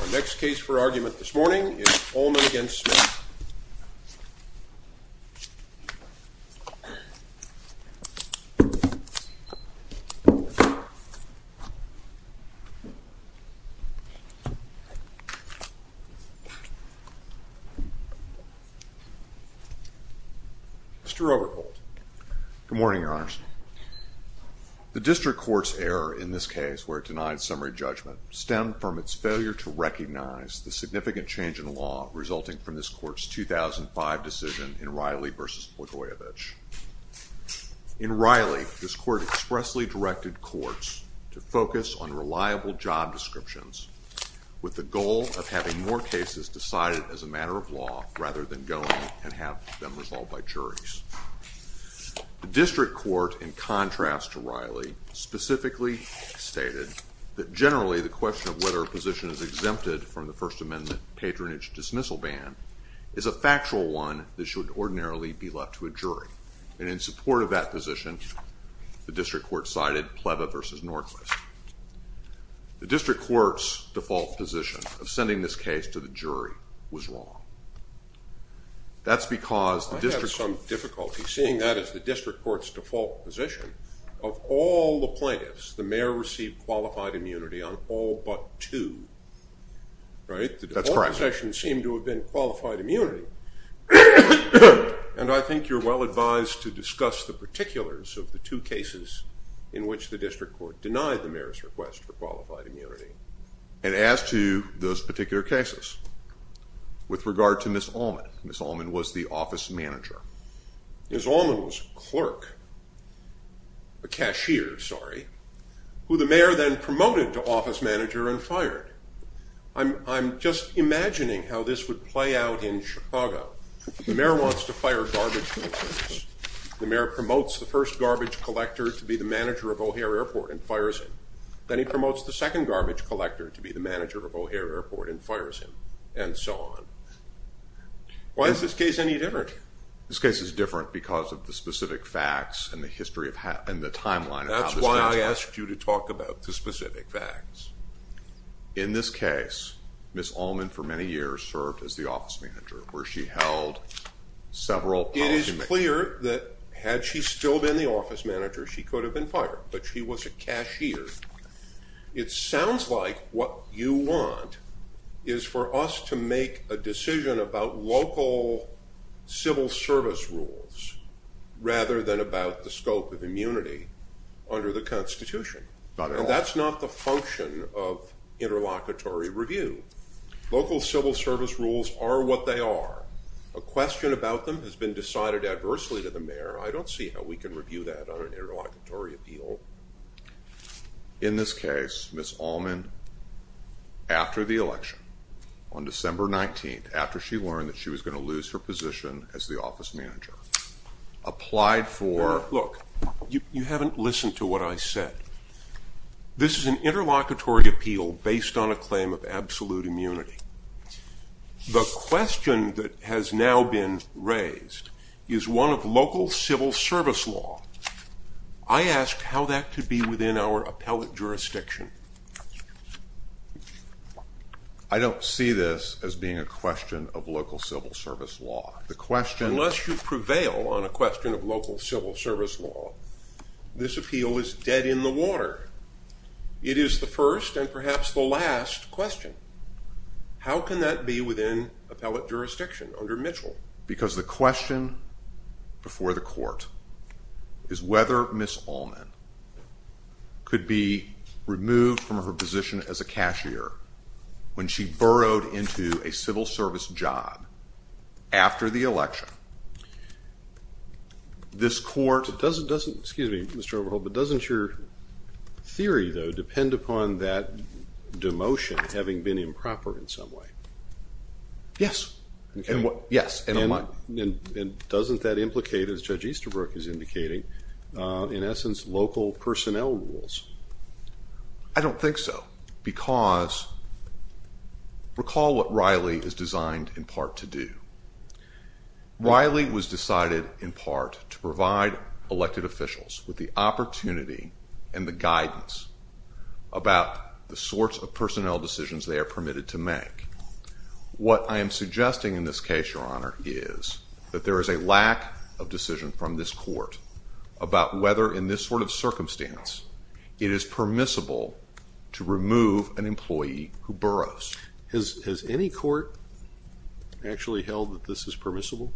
Our next case for argument this morning is Allman v. Smith. Mr. Robertholt. Good morning, Your Honors. The district court's error in this case, where it denied summary judgment, stemmed from its failure to recognize the significant change in law resulting from this court's 2005 decision in Riley v. Blagojevich. In Riley, this court expressly directed courts to focus on reliable job descriptions with the goal of having more cases decided as a matter of law rather than going and have them resolved by juries. The district court, in contrast to Riley, specifically stated that generally the question of whether a position is exempted from the First Amendment patronage dismissal ban is a factual one that should ordinarily be left to a jury, and in support of that position, the district court cited Pleva v. Norquist. The district court's default position of sending this case to the jury was wrong. That's because the district court- I have some difficulty seeing that as the district court's default position. Of all the plaintiffs, the mayor received qualified immunity on all but two, right? That's correct. The default position seemed to have been qualified immunity, and I think you're well advised to discuss the particulars of the two cases in which the district court denied the mayor's request for qualified immunity. And as to those particular cases, with regard to Ms. Allman, Ms. Allman was the office manager. Ms. Allman was a clerk, a cashier, sorry, who the mayor then promoted to office manager and fired. I'm just imagining how this would play out in Chicago. The mayor wants to fire garbage collectors. The mayor promotes the first garbage collector to be the manager of O'Hare Airport and fires him. Then he promotes the second garbage collector to be the manager of O'Hare Airport and fires him, and so on. Why is this case any different? This case is different because of the specific facts and the timeline of how this happened. That's why I asked you to talk about the specific facts. In this case, Ms. Allman for many years served as the office manager, where she held several policy meetings. It is clear that had she still been the office manager, she could have been fired, but she was a cashier. It sounds like what you want is for us to make a decision about local civil service rules rather than about the scope of immunity under the Constitution. That's not the function of interlocutory review. Local civil service rules are what they are. A question about them has been decided adversely to the mayor. I don't see how we can review that on an interlocutory appeal. In this case, Ms. Allman, after the election, on December 19th, after she learned that she was going to lose her position as the office manager, applied for... Look, you haven't listened to what I said. This is an interlocutory appeal based on a claim of absolute immunity. The question that has now been raised is one of local civil service law. I ask how that could be within our appellate jurisdiction. I don't see this as being a question of local civil service law. The question... Unless you prevail on a question of local civil service law, this appeal is dead in the water. It is the first and perhaps the last question. How can that be within appellate jurisdiction under Mitchell? Because the question before the court is whether Ms. Allman could be removed from her position as a cashier when she burrowed into a civil service job after the election. This court... Excuse me, Mr. Overholt, but doesn't your theory, though, depend upon that demotion having been improper in some way? Yes. Okay. Yes. And doesn't that implicate, as Judge Easterbrook is indicating, in essence, local personnel rules? I don't think so, because recall what Riley is designed in part to do. Riley was decided in part to provide elected officials with the opportunity and the guidance about the sorts of personnel decisions they are permitted to make. What I am suggesting in this case, Your Honor, is that there is a lack of decision from this court about whether, in this sort of circumstance, it is permissible to remove an employee who burrows. Has any court actually held that this is permissible?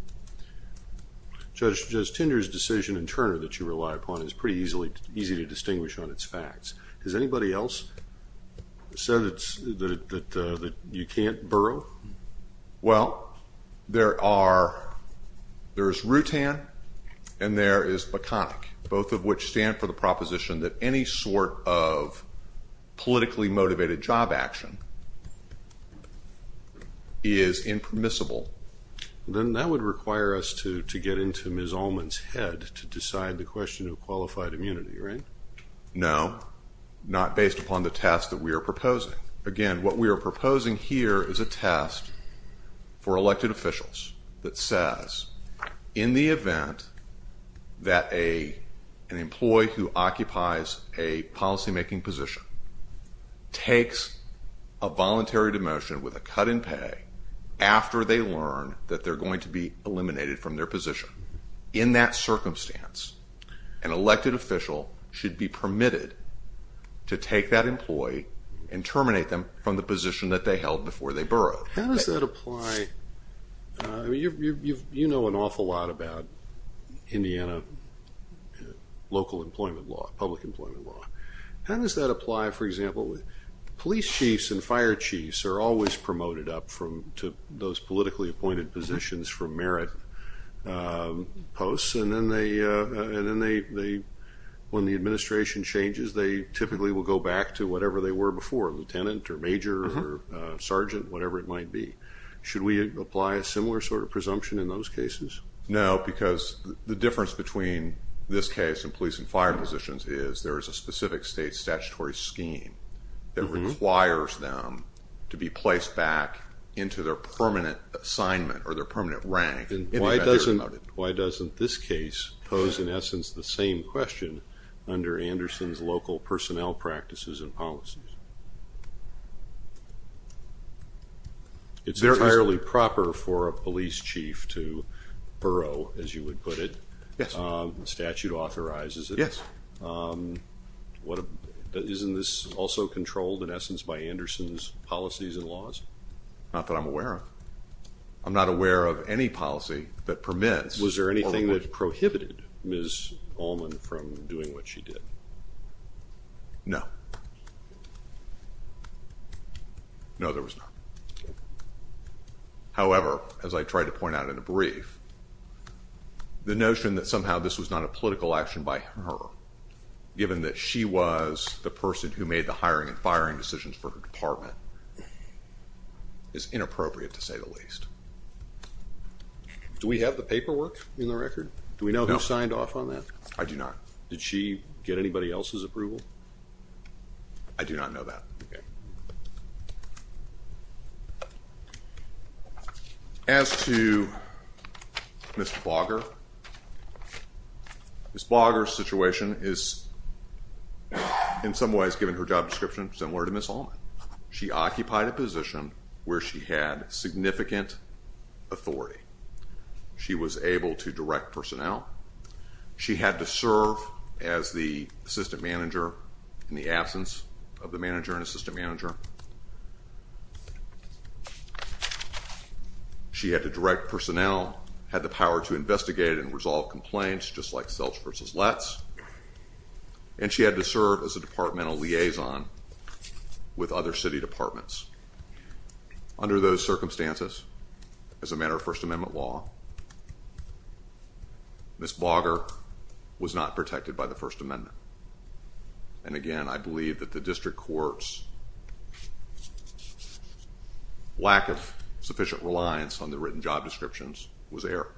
Judge Tinder's decision in Turner that you rely upon is pretty easy to distinguish on its facts. Has anybody else said that you can't burrow? Well, there is Rutan and there is McConnick, both of which stand for the proposition that any sort of politically motivated job action is impermissible. Then that would require us to get into Ms. Ullman's head to decide the question of qualified immunity, right? No, not based upon the test that we are proposing. Again, what we are proposing here is a test for elected officials that says, in the event that an employee who occupies a policymaking position takes a voluntary demotion with a cut in pay after they learn that they are going to be eliminated from their position. In that circumstance, an elected official should be permitted to take that employee and terminate them from the position that they held before they burrowed. How does that apply? Okay. You know an awful lot about Indiana local employment law, public employment law. How does that apply, for example, with police chiefs and fire chiefs are always promoted up to those politically appointed positions for merit posts and then when the administration changes they typically will go back to whatever they were before, lieutenant or major or sergeant, whatever it might be. Should we apply a similar sort of presumption in those cases? No, because the difference between this case and police and fire positions is there is a specific state statutory scheme that requires them to be placed back into their permanent assignment or their permanent rank. Why doesn't this case pose, in essence, the same question under Anderson's local personnel practices and policies? It's entirely proper for a police chief to burrow, as you would put it. Yes. The statute authorizes it. Yes. Isn't this also controlled, in essence, by Anderson's policies and laws? Not that I'm aware of. I'm not aware of any policy that permits. Was there anything that prohibited Ms. Ullman from doing what she did? No. No, there was not. However, as I tried to point out in a brief, the notion that somehow this was not a political action by her, given that she was the person who made the hiring and firing decisions for her department, is inappropriate to say the least. Do we have the paperwork in the record? Do we know who signed off on that? I do not. Did she get anybody else's approval? I do not know that. Okay. As to Ms. Blogger, Ms. Blogger's situation is, in some ways, given her job description, similar to Ms. Ullman. She occupied a position where she had significant authority. She was able to direct personnel. She had to serve as the assistant manager, in the absence of the manager and assistant manager. She had to direct personnel, had the power to investigate and resolve complaints, just like Selch versus Letts. And she had to serve as a departmental liaison with other city departments. Under those circumstances, as a matter of First Amendment law, Ms. Blogger was not protected by the First Amendment. And again, I believe that the district court's lack of sufficient reliance on the written job descriptions was error.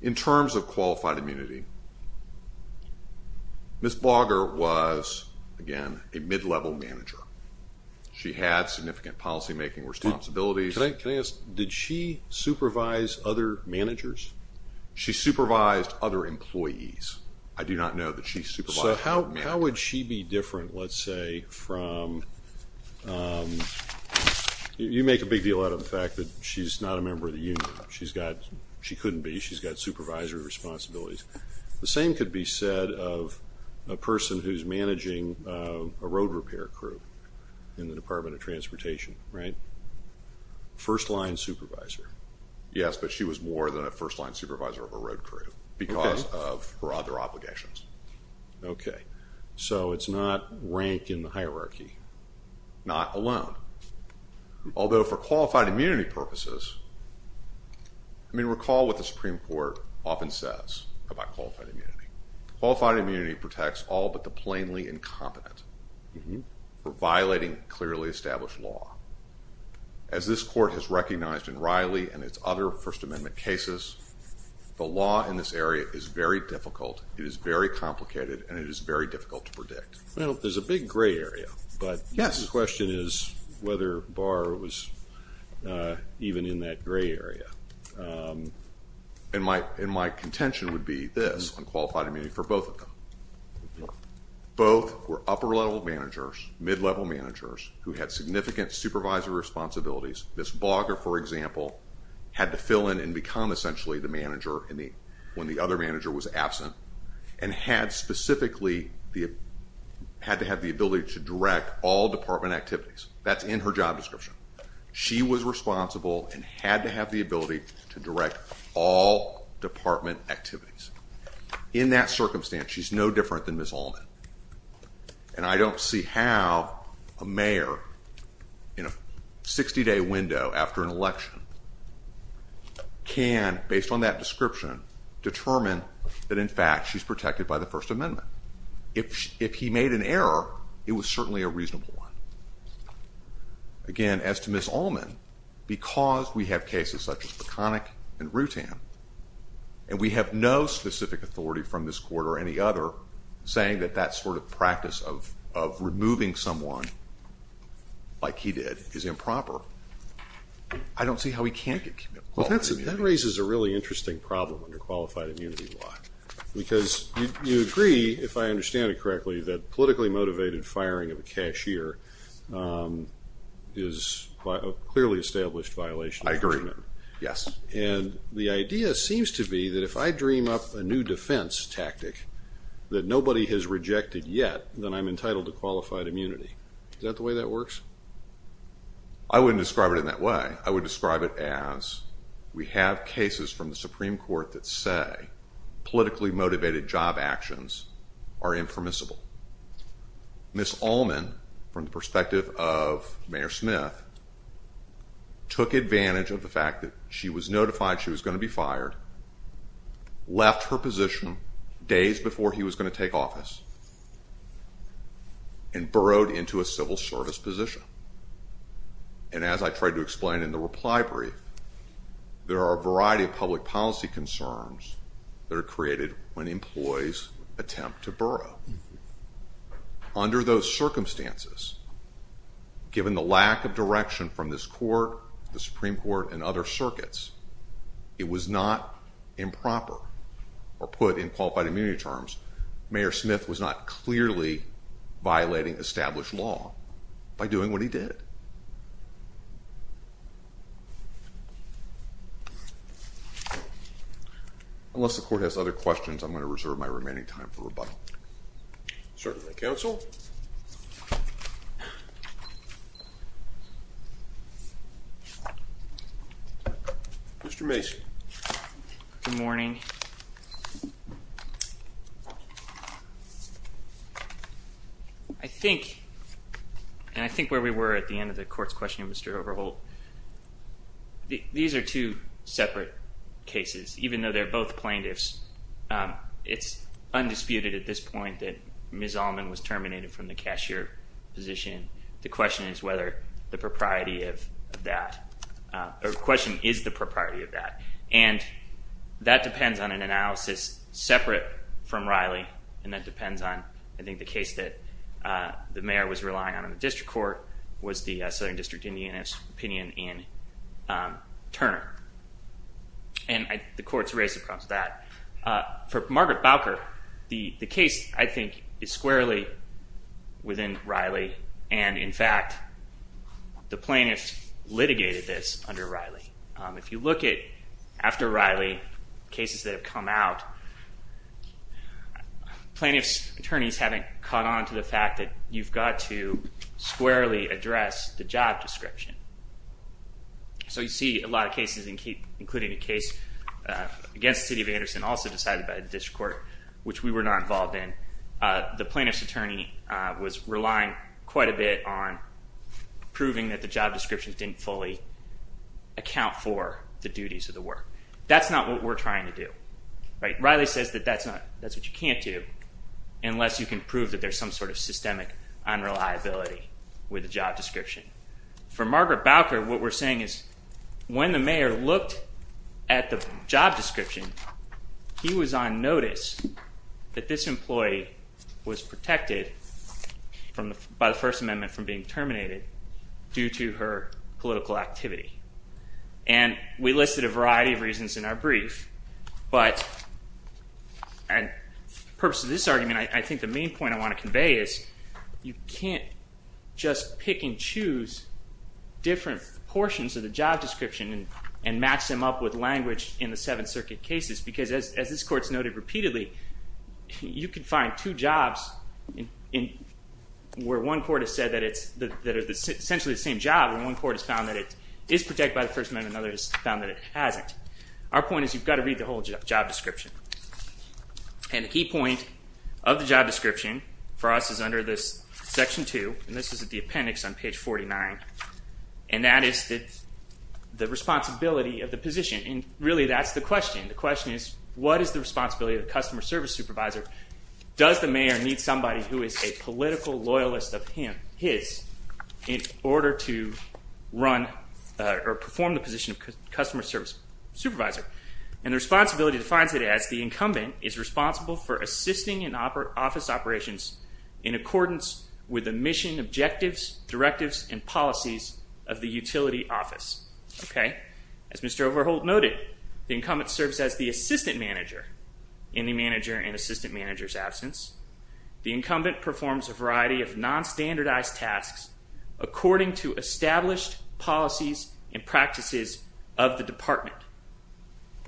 In terms of qualified immunity, Ms. Blogger was, again, a mid-level manager. She had significant policymaking responsibilities. Can I ask, did she supervise other managers? She supervised other employees. I do not know that she supervised other managers. So how would she be different, let's say, from, you make a big deal out of the fact that she's not a member of the union. She couldn't be. She's got supervisory responsibilities. The same could be said of a person who's managing a road repair crew in the Department of Transportation, right? First-line supervisor. Yes, but she was more than a first-line supervisor of a road crew because of her other obligations. Okay. So it's not rank in the hierarchy. Not alone. Although, for qualified immunity purposes, I mean, recall what the Supreme Court often says about qualified immunity. Qualified immunity protects all but the plainly incompetent for violating clearly established law. As this court has recognized in Riley and its other First Amendment cases, the law in this area is very difficult, it is very complicated, and it is very difficult to predict. Well, there's a big gray area. Yes. But the question is whether Barr was even in that gray area. And my contention would be this on qualified immunity for both of them. Both were upper-level managers, mid-level managers, who had significant supervisory responsibilities. This blogger, for example, had to fill in and become essentially the manager when the other manager was absent and had specifically had to have the ability to direct all department activities. That's in her job description. She was responsible and had to have the ability to direct all department activities. In that circumstance, she's no different than Ms. Allman. And I don't see how a mayor in a 60-day window after an election can, based on that statement, determine that, in fact, she's protected by the First Amendment. If he made an error, it was certainly a reasonable one. Again, as to Ms. Allman, because we have cases such as Peconick and Rutan, and we have no specific authority from this court or any other saying that that sort of practice of removing someone, like he did, is improper, I don't see how he can't get qualified immunity. Well, that raises a really interesting problem under qualified immunity law. Because you agree, if I understand it correctly, that politically motivated firing of a cashier is a clearly established violation of the First Amendment. I agree. Yes. And the idea seems to be that if I dream up a new defense tactic that nobody has rejected yet, then I'm entitled to qualified immunity. Is that the way that works? I wouldn't describe it in that way. Again, I would describe it as we have cases from the Supreme Court that say politically motivated job actions are impermissible. Ms. Allman, from the perspective of Mayor Smith, took advantage of the fact that she was notified she was going to be fired, left her position days before he was going to take office, and burrowed into a civil service position. And as I tried to explain in the reply brief, there are a variety of public policy concerns that are created when employees attempt to burrow. Under those circumstances, given the lack of direction from this court, the Supreme Court, and other circuits, it was not improper, or put in qualified immunity terms, Mayor Smith really did. Unless the court has other questions, I'm going to reserve my remaining time for rebuttal. Certainly, counsel. Mr. Mason. Good morning. Good morning. I think, and I think where we were at the end of the court's question, Mr. Overholt, these are two separate cases, even though they're both plaintiffs. It's undisputed at this point that Ms. Allman was terminated from the cashier position. The question is whether the propriety of that, or the question is the propriety of that. And that depends on an analysis separate from Riley, and that depends on, I think the case that the mayor was relying on in the district court was the Southern District Indianist opinion in Turner. And the court's raised the problem with that. For Margaret Bowker, the case, I think, is squarely within Riley, and in fact, the plaintiffs litigated this under Riley. If you look at, after Riley, cases that have come out, plaintiffs' attorneys haven't caught on to the fact that you've got to squarely address the job description. So you see a lot of cases, including a case against the city of Anderson, also decided by the district court, which we were not involved in. The plaintiff's attorney was relying quite a bit on proving that the job description didn't fully account for the duties of the work. That's not what we're trying to do. Riley says that that's what you can't do unless you can prove that there's some sort of systemic unreliability with the job description. For Margaret Bowker, what we're saying is when the mayor looked at the job description, he was on notice that this employee was protected by the First Amendment from being subject to political activity. And we listed a variety of reasons in our brief. But the purpose of this argument, I think the main point I want to convey is you can't just pick and choose different portions of the job description and match them up with language in the Seventh Circuit cases. Because as this Court's noted repeatedly, you can find two jobs where one court has essentially the same job, and one court has found that it is protected by the First Amendment and another has found that it hasn't. Our point is you've got to read the whole job description. And the key point of the job description for us is under this Section 2. And this is at the appendix on page 49. And that is the responsibility of the position. And really that's the question. The question is what is the responsibility of the customer service supervisor? Does the mayor need somebody who is a political loyalist of his in order to run or perform the position of customer service supervisor? And the responsibility defines it as the incumbent is responsible for assisting in office operations in accordance with the mission, objectives, directives, and policies of the utility office. As Mr. Overholt noted, the incumbent serves as the assistant manager in the manager and assistant manager's absence. The incumbent performs a variety of non-standardized tasks according to established policies and practices of the department.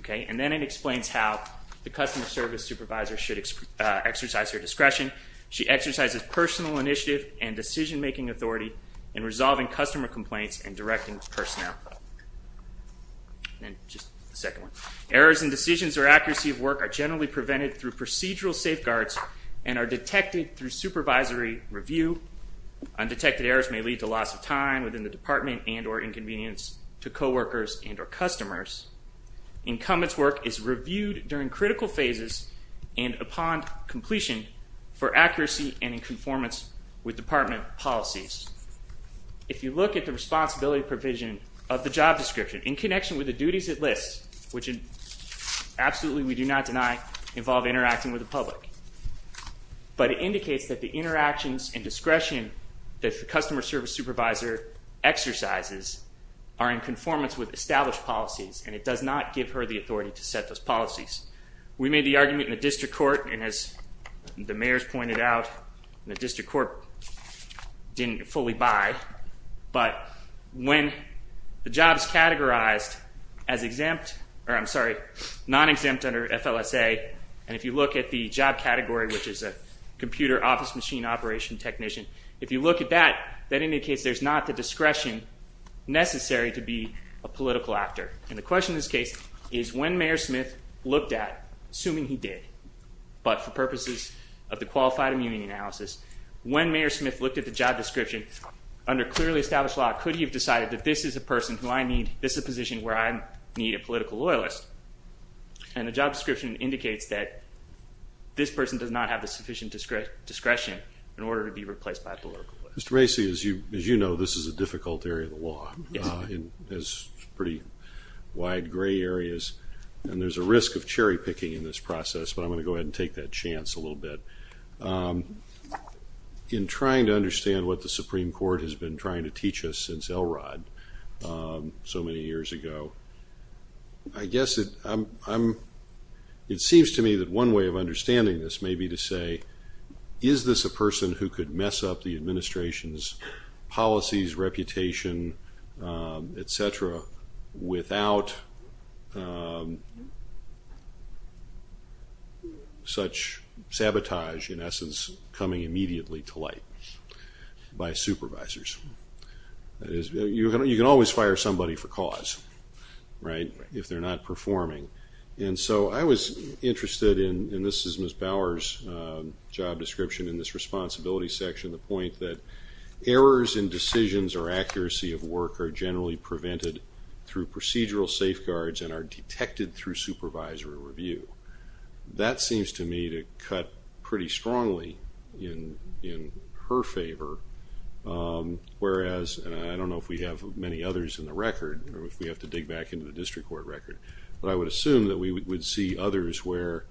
And then it explains how the customer service supervisor should exercise her discretion. She exercises personal initiative and decision-making authority in resolving customer complaints and directing personnel. Then just the second one. Errors in decisions or accuracy of work are generally prevented through procedural safeguards and are detected through supervisory review. Undetected errors may lead to loss of time within the department and or inconvenience to coworkers and or customers. Incumbent's work is reviewed during critical phases and upon completion for accuracy and in conformance with department policies. If you look at the responsibility provision of the job description in connection with the duties it lists, which absolutely we do not deny, involve interacting with the public. But it indicates that the interactions and discretion that the customer service supervisor exercises are in conformance with established policies and it does not give her the authority to set those policies. We made the argument in the district court, and as the mayor's pointed out, the district court didn't fully buy. But when the job is categorized as exempt, or I'm sorry, non-exempt under FLSA, and if you look at the job category, which is a computer office machine operation technician, if you look at that, that indicates there's not the discretion necessary to be a political actor. And the question in this case is when Mayor Smith looked at, assuming he did, but for purposes of the qualified immunity analysis, when Mayor Smith looked at the job description under clearly established law, could he have decided that this is a person who I need, this is a position where I need a political loyalist. And the job description indicates that this person does not have the sufficient discretion in order to be replaced by a political loyalist. Mr. Macy, as you know, this is a difficult area of the law. It has pretty wide gray areas. And there's a risk of cherry picking in this process, but I'm going to go ahead and take that chance a little bit. In trying to understand what the Supreme Court has been trying to teach us since Elrod so many years ago, I guess it seems to me that one way of understanding this may be to say, is this a person who could mess up the administration's policies, reputation, et cetera, without such sabotage in essence coming immediately to light by supervisors? You can always fire somebody for cause, right, if they're not performing. And so I was interested in, and this is Ms. Bower's job description in this responsibility section, the point that errors in decisions or accuracy of work are generally prevented through procedural safeguards and are detected through supervisory review. That seems to me to cut pretty strongly in her favor, whereas, and I don't know if we have many others in the record, or if we have to dig back into the district court record, but I would assume that we would see others where,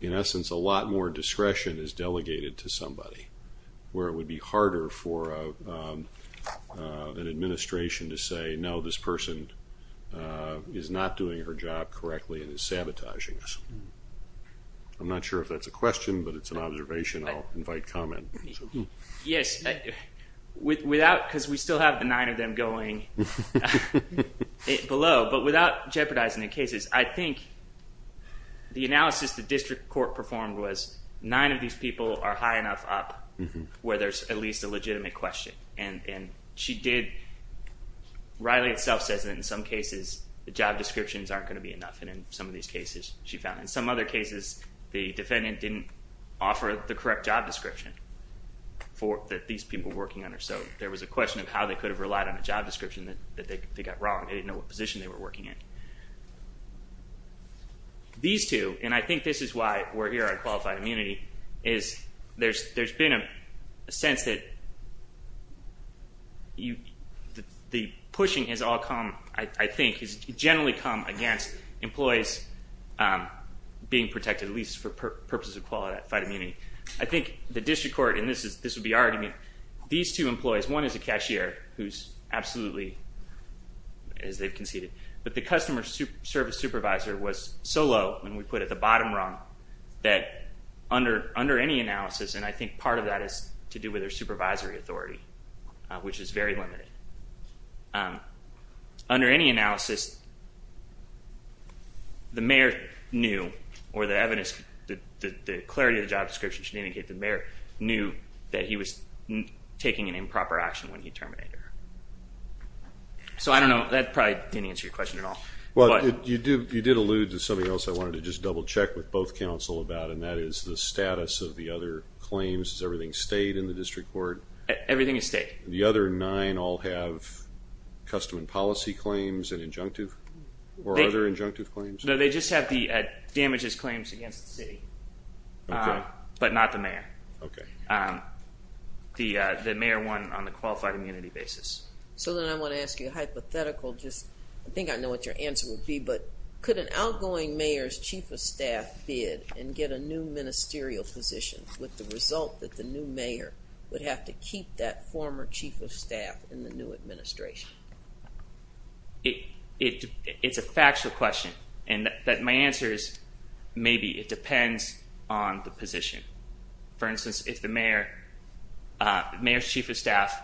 in essence, a lot more discretion is delegated to somebody, where it would be harder for an administration to say, no, this person is not doing her job correctly and is sabotaging us. I'm not sure if that's a question, but it's an observation. I'll invite comment. Yes, without, because we still have the nine of them going below, but without jeopardizing the cases, I think the analysis the district court performed was nine of these people are high enough up where there's at least a legitimate question. And she did, Riley itself says that in some cases, the job descriptions aren't going to be enough. And in some of these cases, she found in some other cases, the defendant didn't offer the correct job description that these people were working under. So there was a question of how they could have relied on a job description that they got wrong. They didn't know what position they were working in. These two, and I think this is why we're here on qualified immunity, is there's been a sense that the pushing has all come, I think, has generally come against employees being protected, at least for purposes of qualified immunity. I think the district court, and this would be our argument, these two employees, one is a cashier who's absolutely, as they've conceded. But the customer service supervisor was so low, and we put it at the bottom rung, that under any analysis, and I think part of that is to do with their supervisory authority, which is very limited. Under any analysis, the mayor knew, or the evidence, the clarity of the job description should indicate the mayor knew that he was taking an improper action when he terminated her. So I don't know. That probably didn't answer your question at all. You did allude to something else I wanted to just double check with both counsel about, and that is the status of the other claims. Is everything state in the district court? Everything is state. The other nine all have custom and policy claims and injunctive, or other injunctive claims? No, they just have the damages claims against the city. Okay. But not the mayor. Okay. The mayor won on the qualified immunity basis. So then I want to ask you a hypothetical, just I think I know what your answer would be, but could an outgoing mayor's chief of staff bid and get a new ministerial position with the result that the new mayor would have to keep that former chief of staff in the new administration? It's a factual question. And my answer is maybe it depends on the position. For instance, if the mayor's chief of staff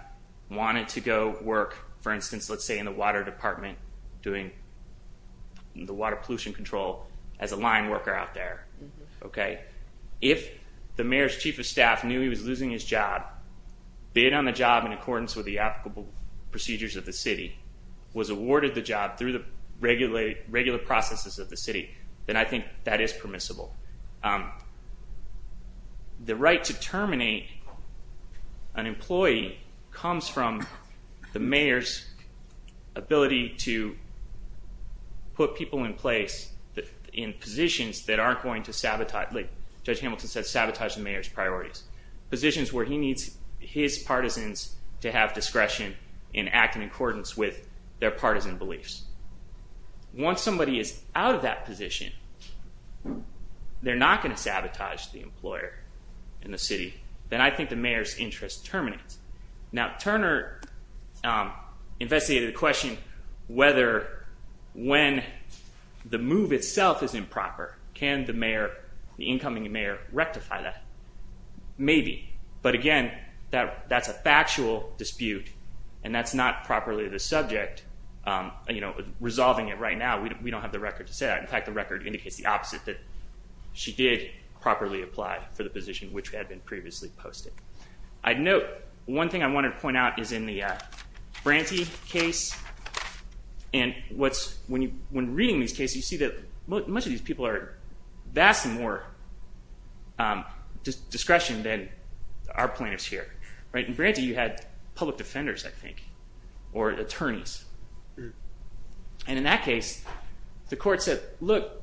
wanted to go work, for instance, let's say in the water department doing the water pollution control as a line worker out there. Okay. If the mayor's chief of staff knew he was losing his job, bid on the job in accordance with the applicable procedures of the city, was awarded the job through the regular processes of the city, then I think that is permissible. The right to terminate an employee comes from the mayor's ability to put people in place in positions that aren't going to sabotage, like Judge Hamilton said, sabotage the mayor's priorities. Positions where he needs his partisans to have discretion in acting in accordance with their partisan beliefs. Once somebody is out of that position, they're not going to sabotage the employer in the city. Then I think the mayor's interest terminates. Now Turner investigated the question whether when the move itself is improper, can the incoming mayor rectify that? Maybe. But again, that's a factual dispute and that's not properly the subject. Resolving it right now, we don't have the record to say that. In fact, the record indicates the opposite, that she did properly apply for the position which had been previously posted. I'd note, one thing I wanted to point out is in the Branty case, and when reading these cases, you see that most of these people are vastly more discretion than our plaintiffs here. In Branty, you had public defenders, I think, or attorneys. And in that case, the court said, look,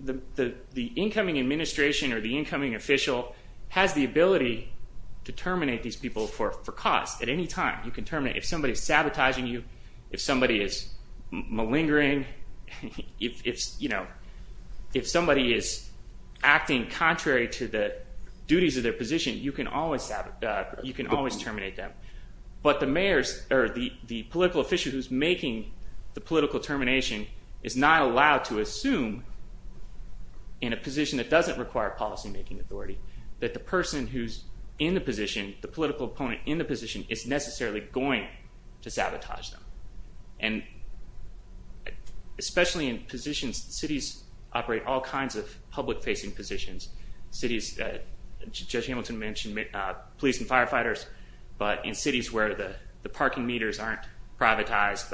the incoming administration or the incoming official has the ability to terminate these people for cause at any time. If somebody's sabotaging you, if somebody is malingering, if somebody is acting contrary to the duties of their position, you can always terminate them. But the political official who's making the political termination is not allowed to assume in a position that doesn't require policymaking authority that the person who's in the position, the political opponent in the position, is necessarily going to sabotage them. And especially in positions, cities operate all kinds of public-facing positions. Judge Hamilton mentioned police and firefighters, but in cities where the parking meters aren't privatized,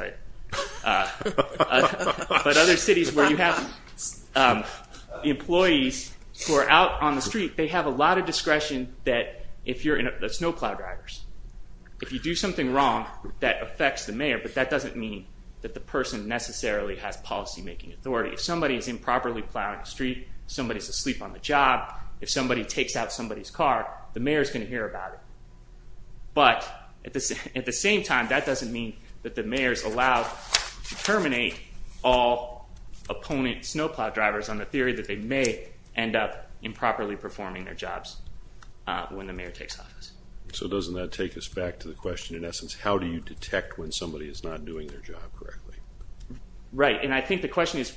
but other cities where you have employees who are out on the street, they have a lot of discretion that there's no plow drivers. If you do something wrong that affects the mayor, but that doesn't mean that the person necessarily has policymaking authority. If somebody's improperly plowing the street, somebody's asleep on the job, if somebody takes out somebody's car, the mayor's going to hear about it. But at the same time, that doesn't mean that the mayor's allowed to terminate all opponent snowplow drivers on the theory that they may end up improperly performing their jobs when the mayor takes office. So doesn't that take us back to the question, in essence, how do you detect when somebody is not doing their job correctly? Right, and I think the question is,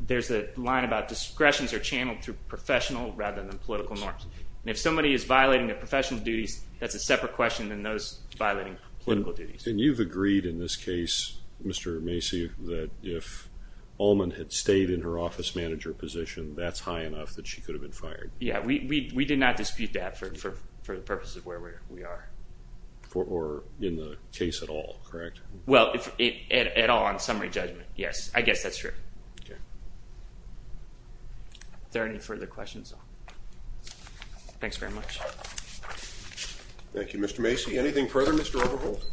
there's a line about discretions are channeled through professional rather than political norms. If somebody is violating their professional duties, that's a separate question than those violating political duties. And you've agreed in this case, Mr. Macy, that if Allman had stayed in her office manager position, that's high enough that she could have been fired. Yeah, we did not dispute that for the purpose of where we are. Or in the case at all, correct? Well, at all on summary judgment, yes. I guess that's true. Are there any further questions? Thanks very much. Thank you, Mr. Macy. Anything further, Mr. Overholt?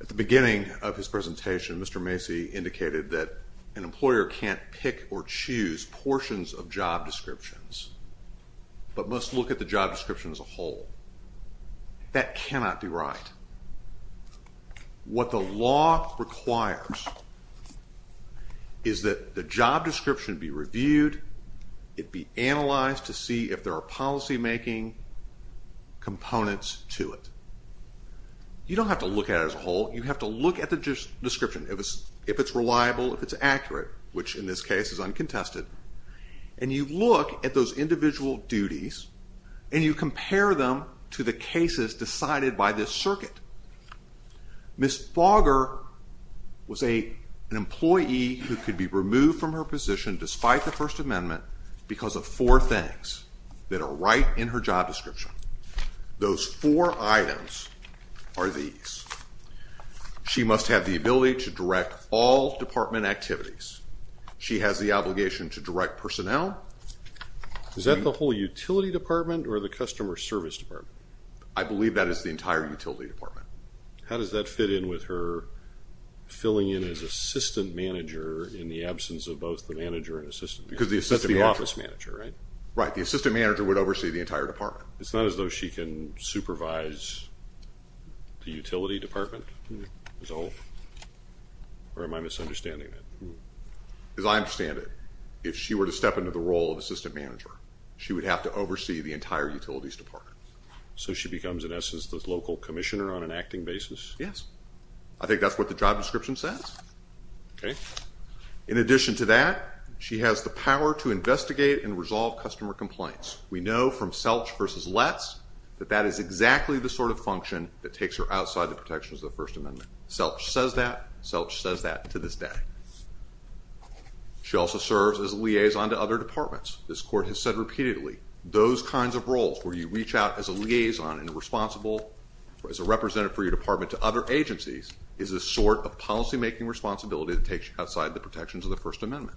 At the beginning of his presentation, Mr. Macy indicated that an employer can't pick or choose portions of job descriptions but must look at the job description as a whole. That cannot be right. What the law requires is that the job description be reviewed, it be analyzed to see if there are policymaking components to it. You don't have to look at it as a whole. You have to look at the description if it's reliable, if it's accurate, which in this case is uncontested. And you look at those individual duties and you compare them to the cases decided by this circuit. Ms. Fogger was an employee who could be removed from her position despite the First Amendment because of four things that are right in her job description. Those four items are these. She must have the ability to direct all department activities. She has the obligation to direct personnel. Is that the whole utility department or the customer service department? I believe that is the entire utility department. How does that fit in with her filling in as assistant manager in the absence of both the manager and assistant? Because that's the office manager, right? Right. The assistant manager would oversee the entire department. It's not as though she can supervise the utility department as a whole? Or am I misunderstanding that? As I understand it, if she were to step into the role of assistant manager she would have to oversee the entire utilities department. So she becomes in essence the local commissioner on an acting basis? Yes. I think that's what the job description says. Okay. In addition to that she has the power to investigate and resolve customer complaints. We know from Selch versus Letts that that is exactly the sort of function that takes her outside the protections of the First Amendment. Selch says that. Selch says that to this day. She also serves as a liaison to other departments. This court has said repeatedly, those kinds of roles where you reach out as a liaison and a responsible, as a representative for your department to other agencies is a sort of policymaking responsibility that takes you outside the protections of the First Amendment.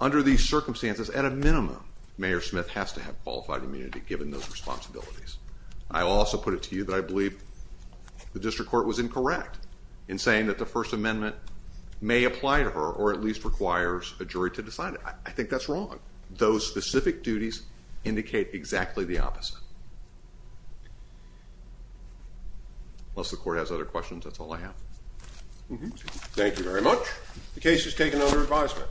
Under these circumstances, at a minimum Mayor Smith has to have qualified immunity given those responsibilities. I also put it to you that I believe the district court was incorrect in saying that the First Amendment may apply to her or at least requires a jury to decide it. I think that's wrong. Those specific duties indicate exactly the opposite. Unless the court has other questions, that's all I have. Thank you very much. The case is taken under advisement.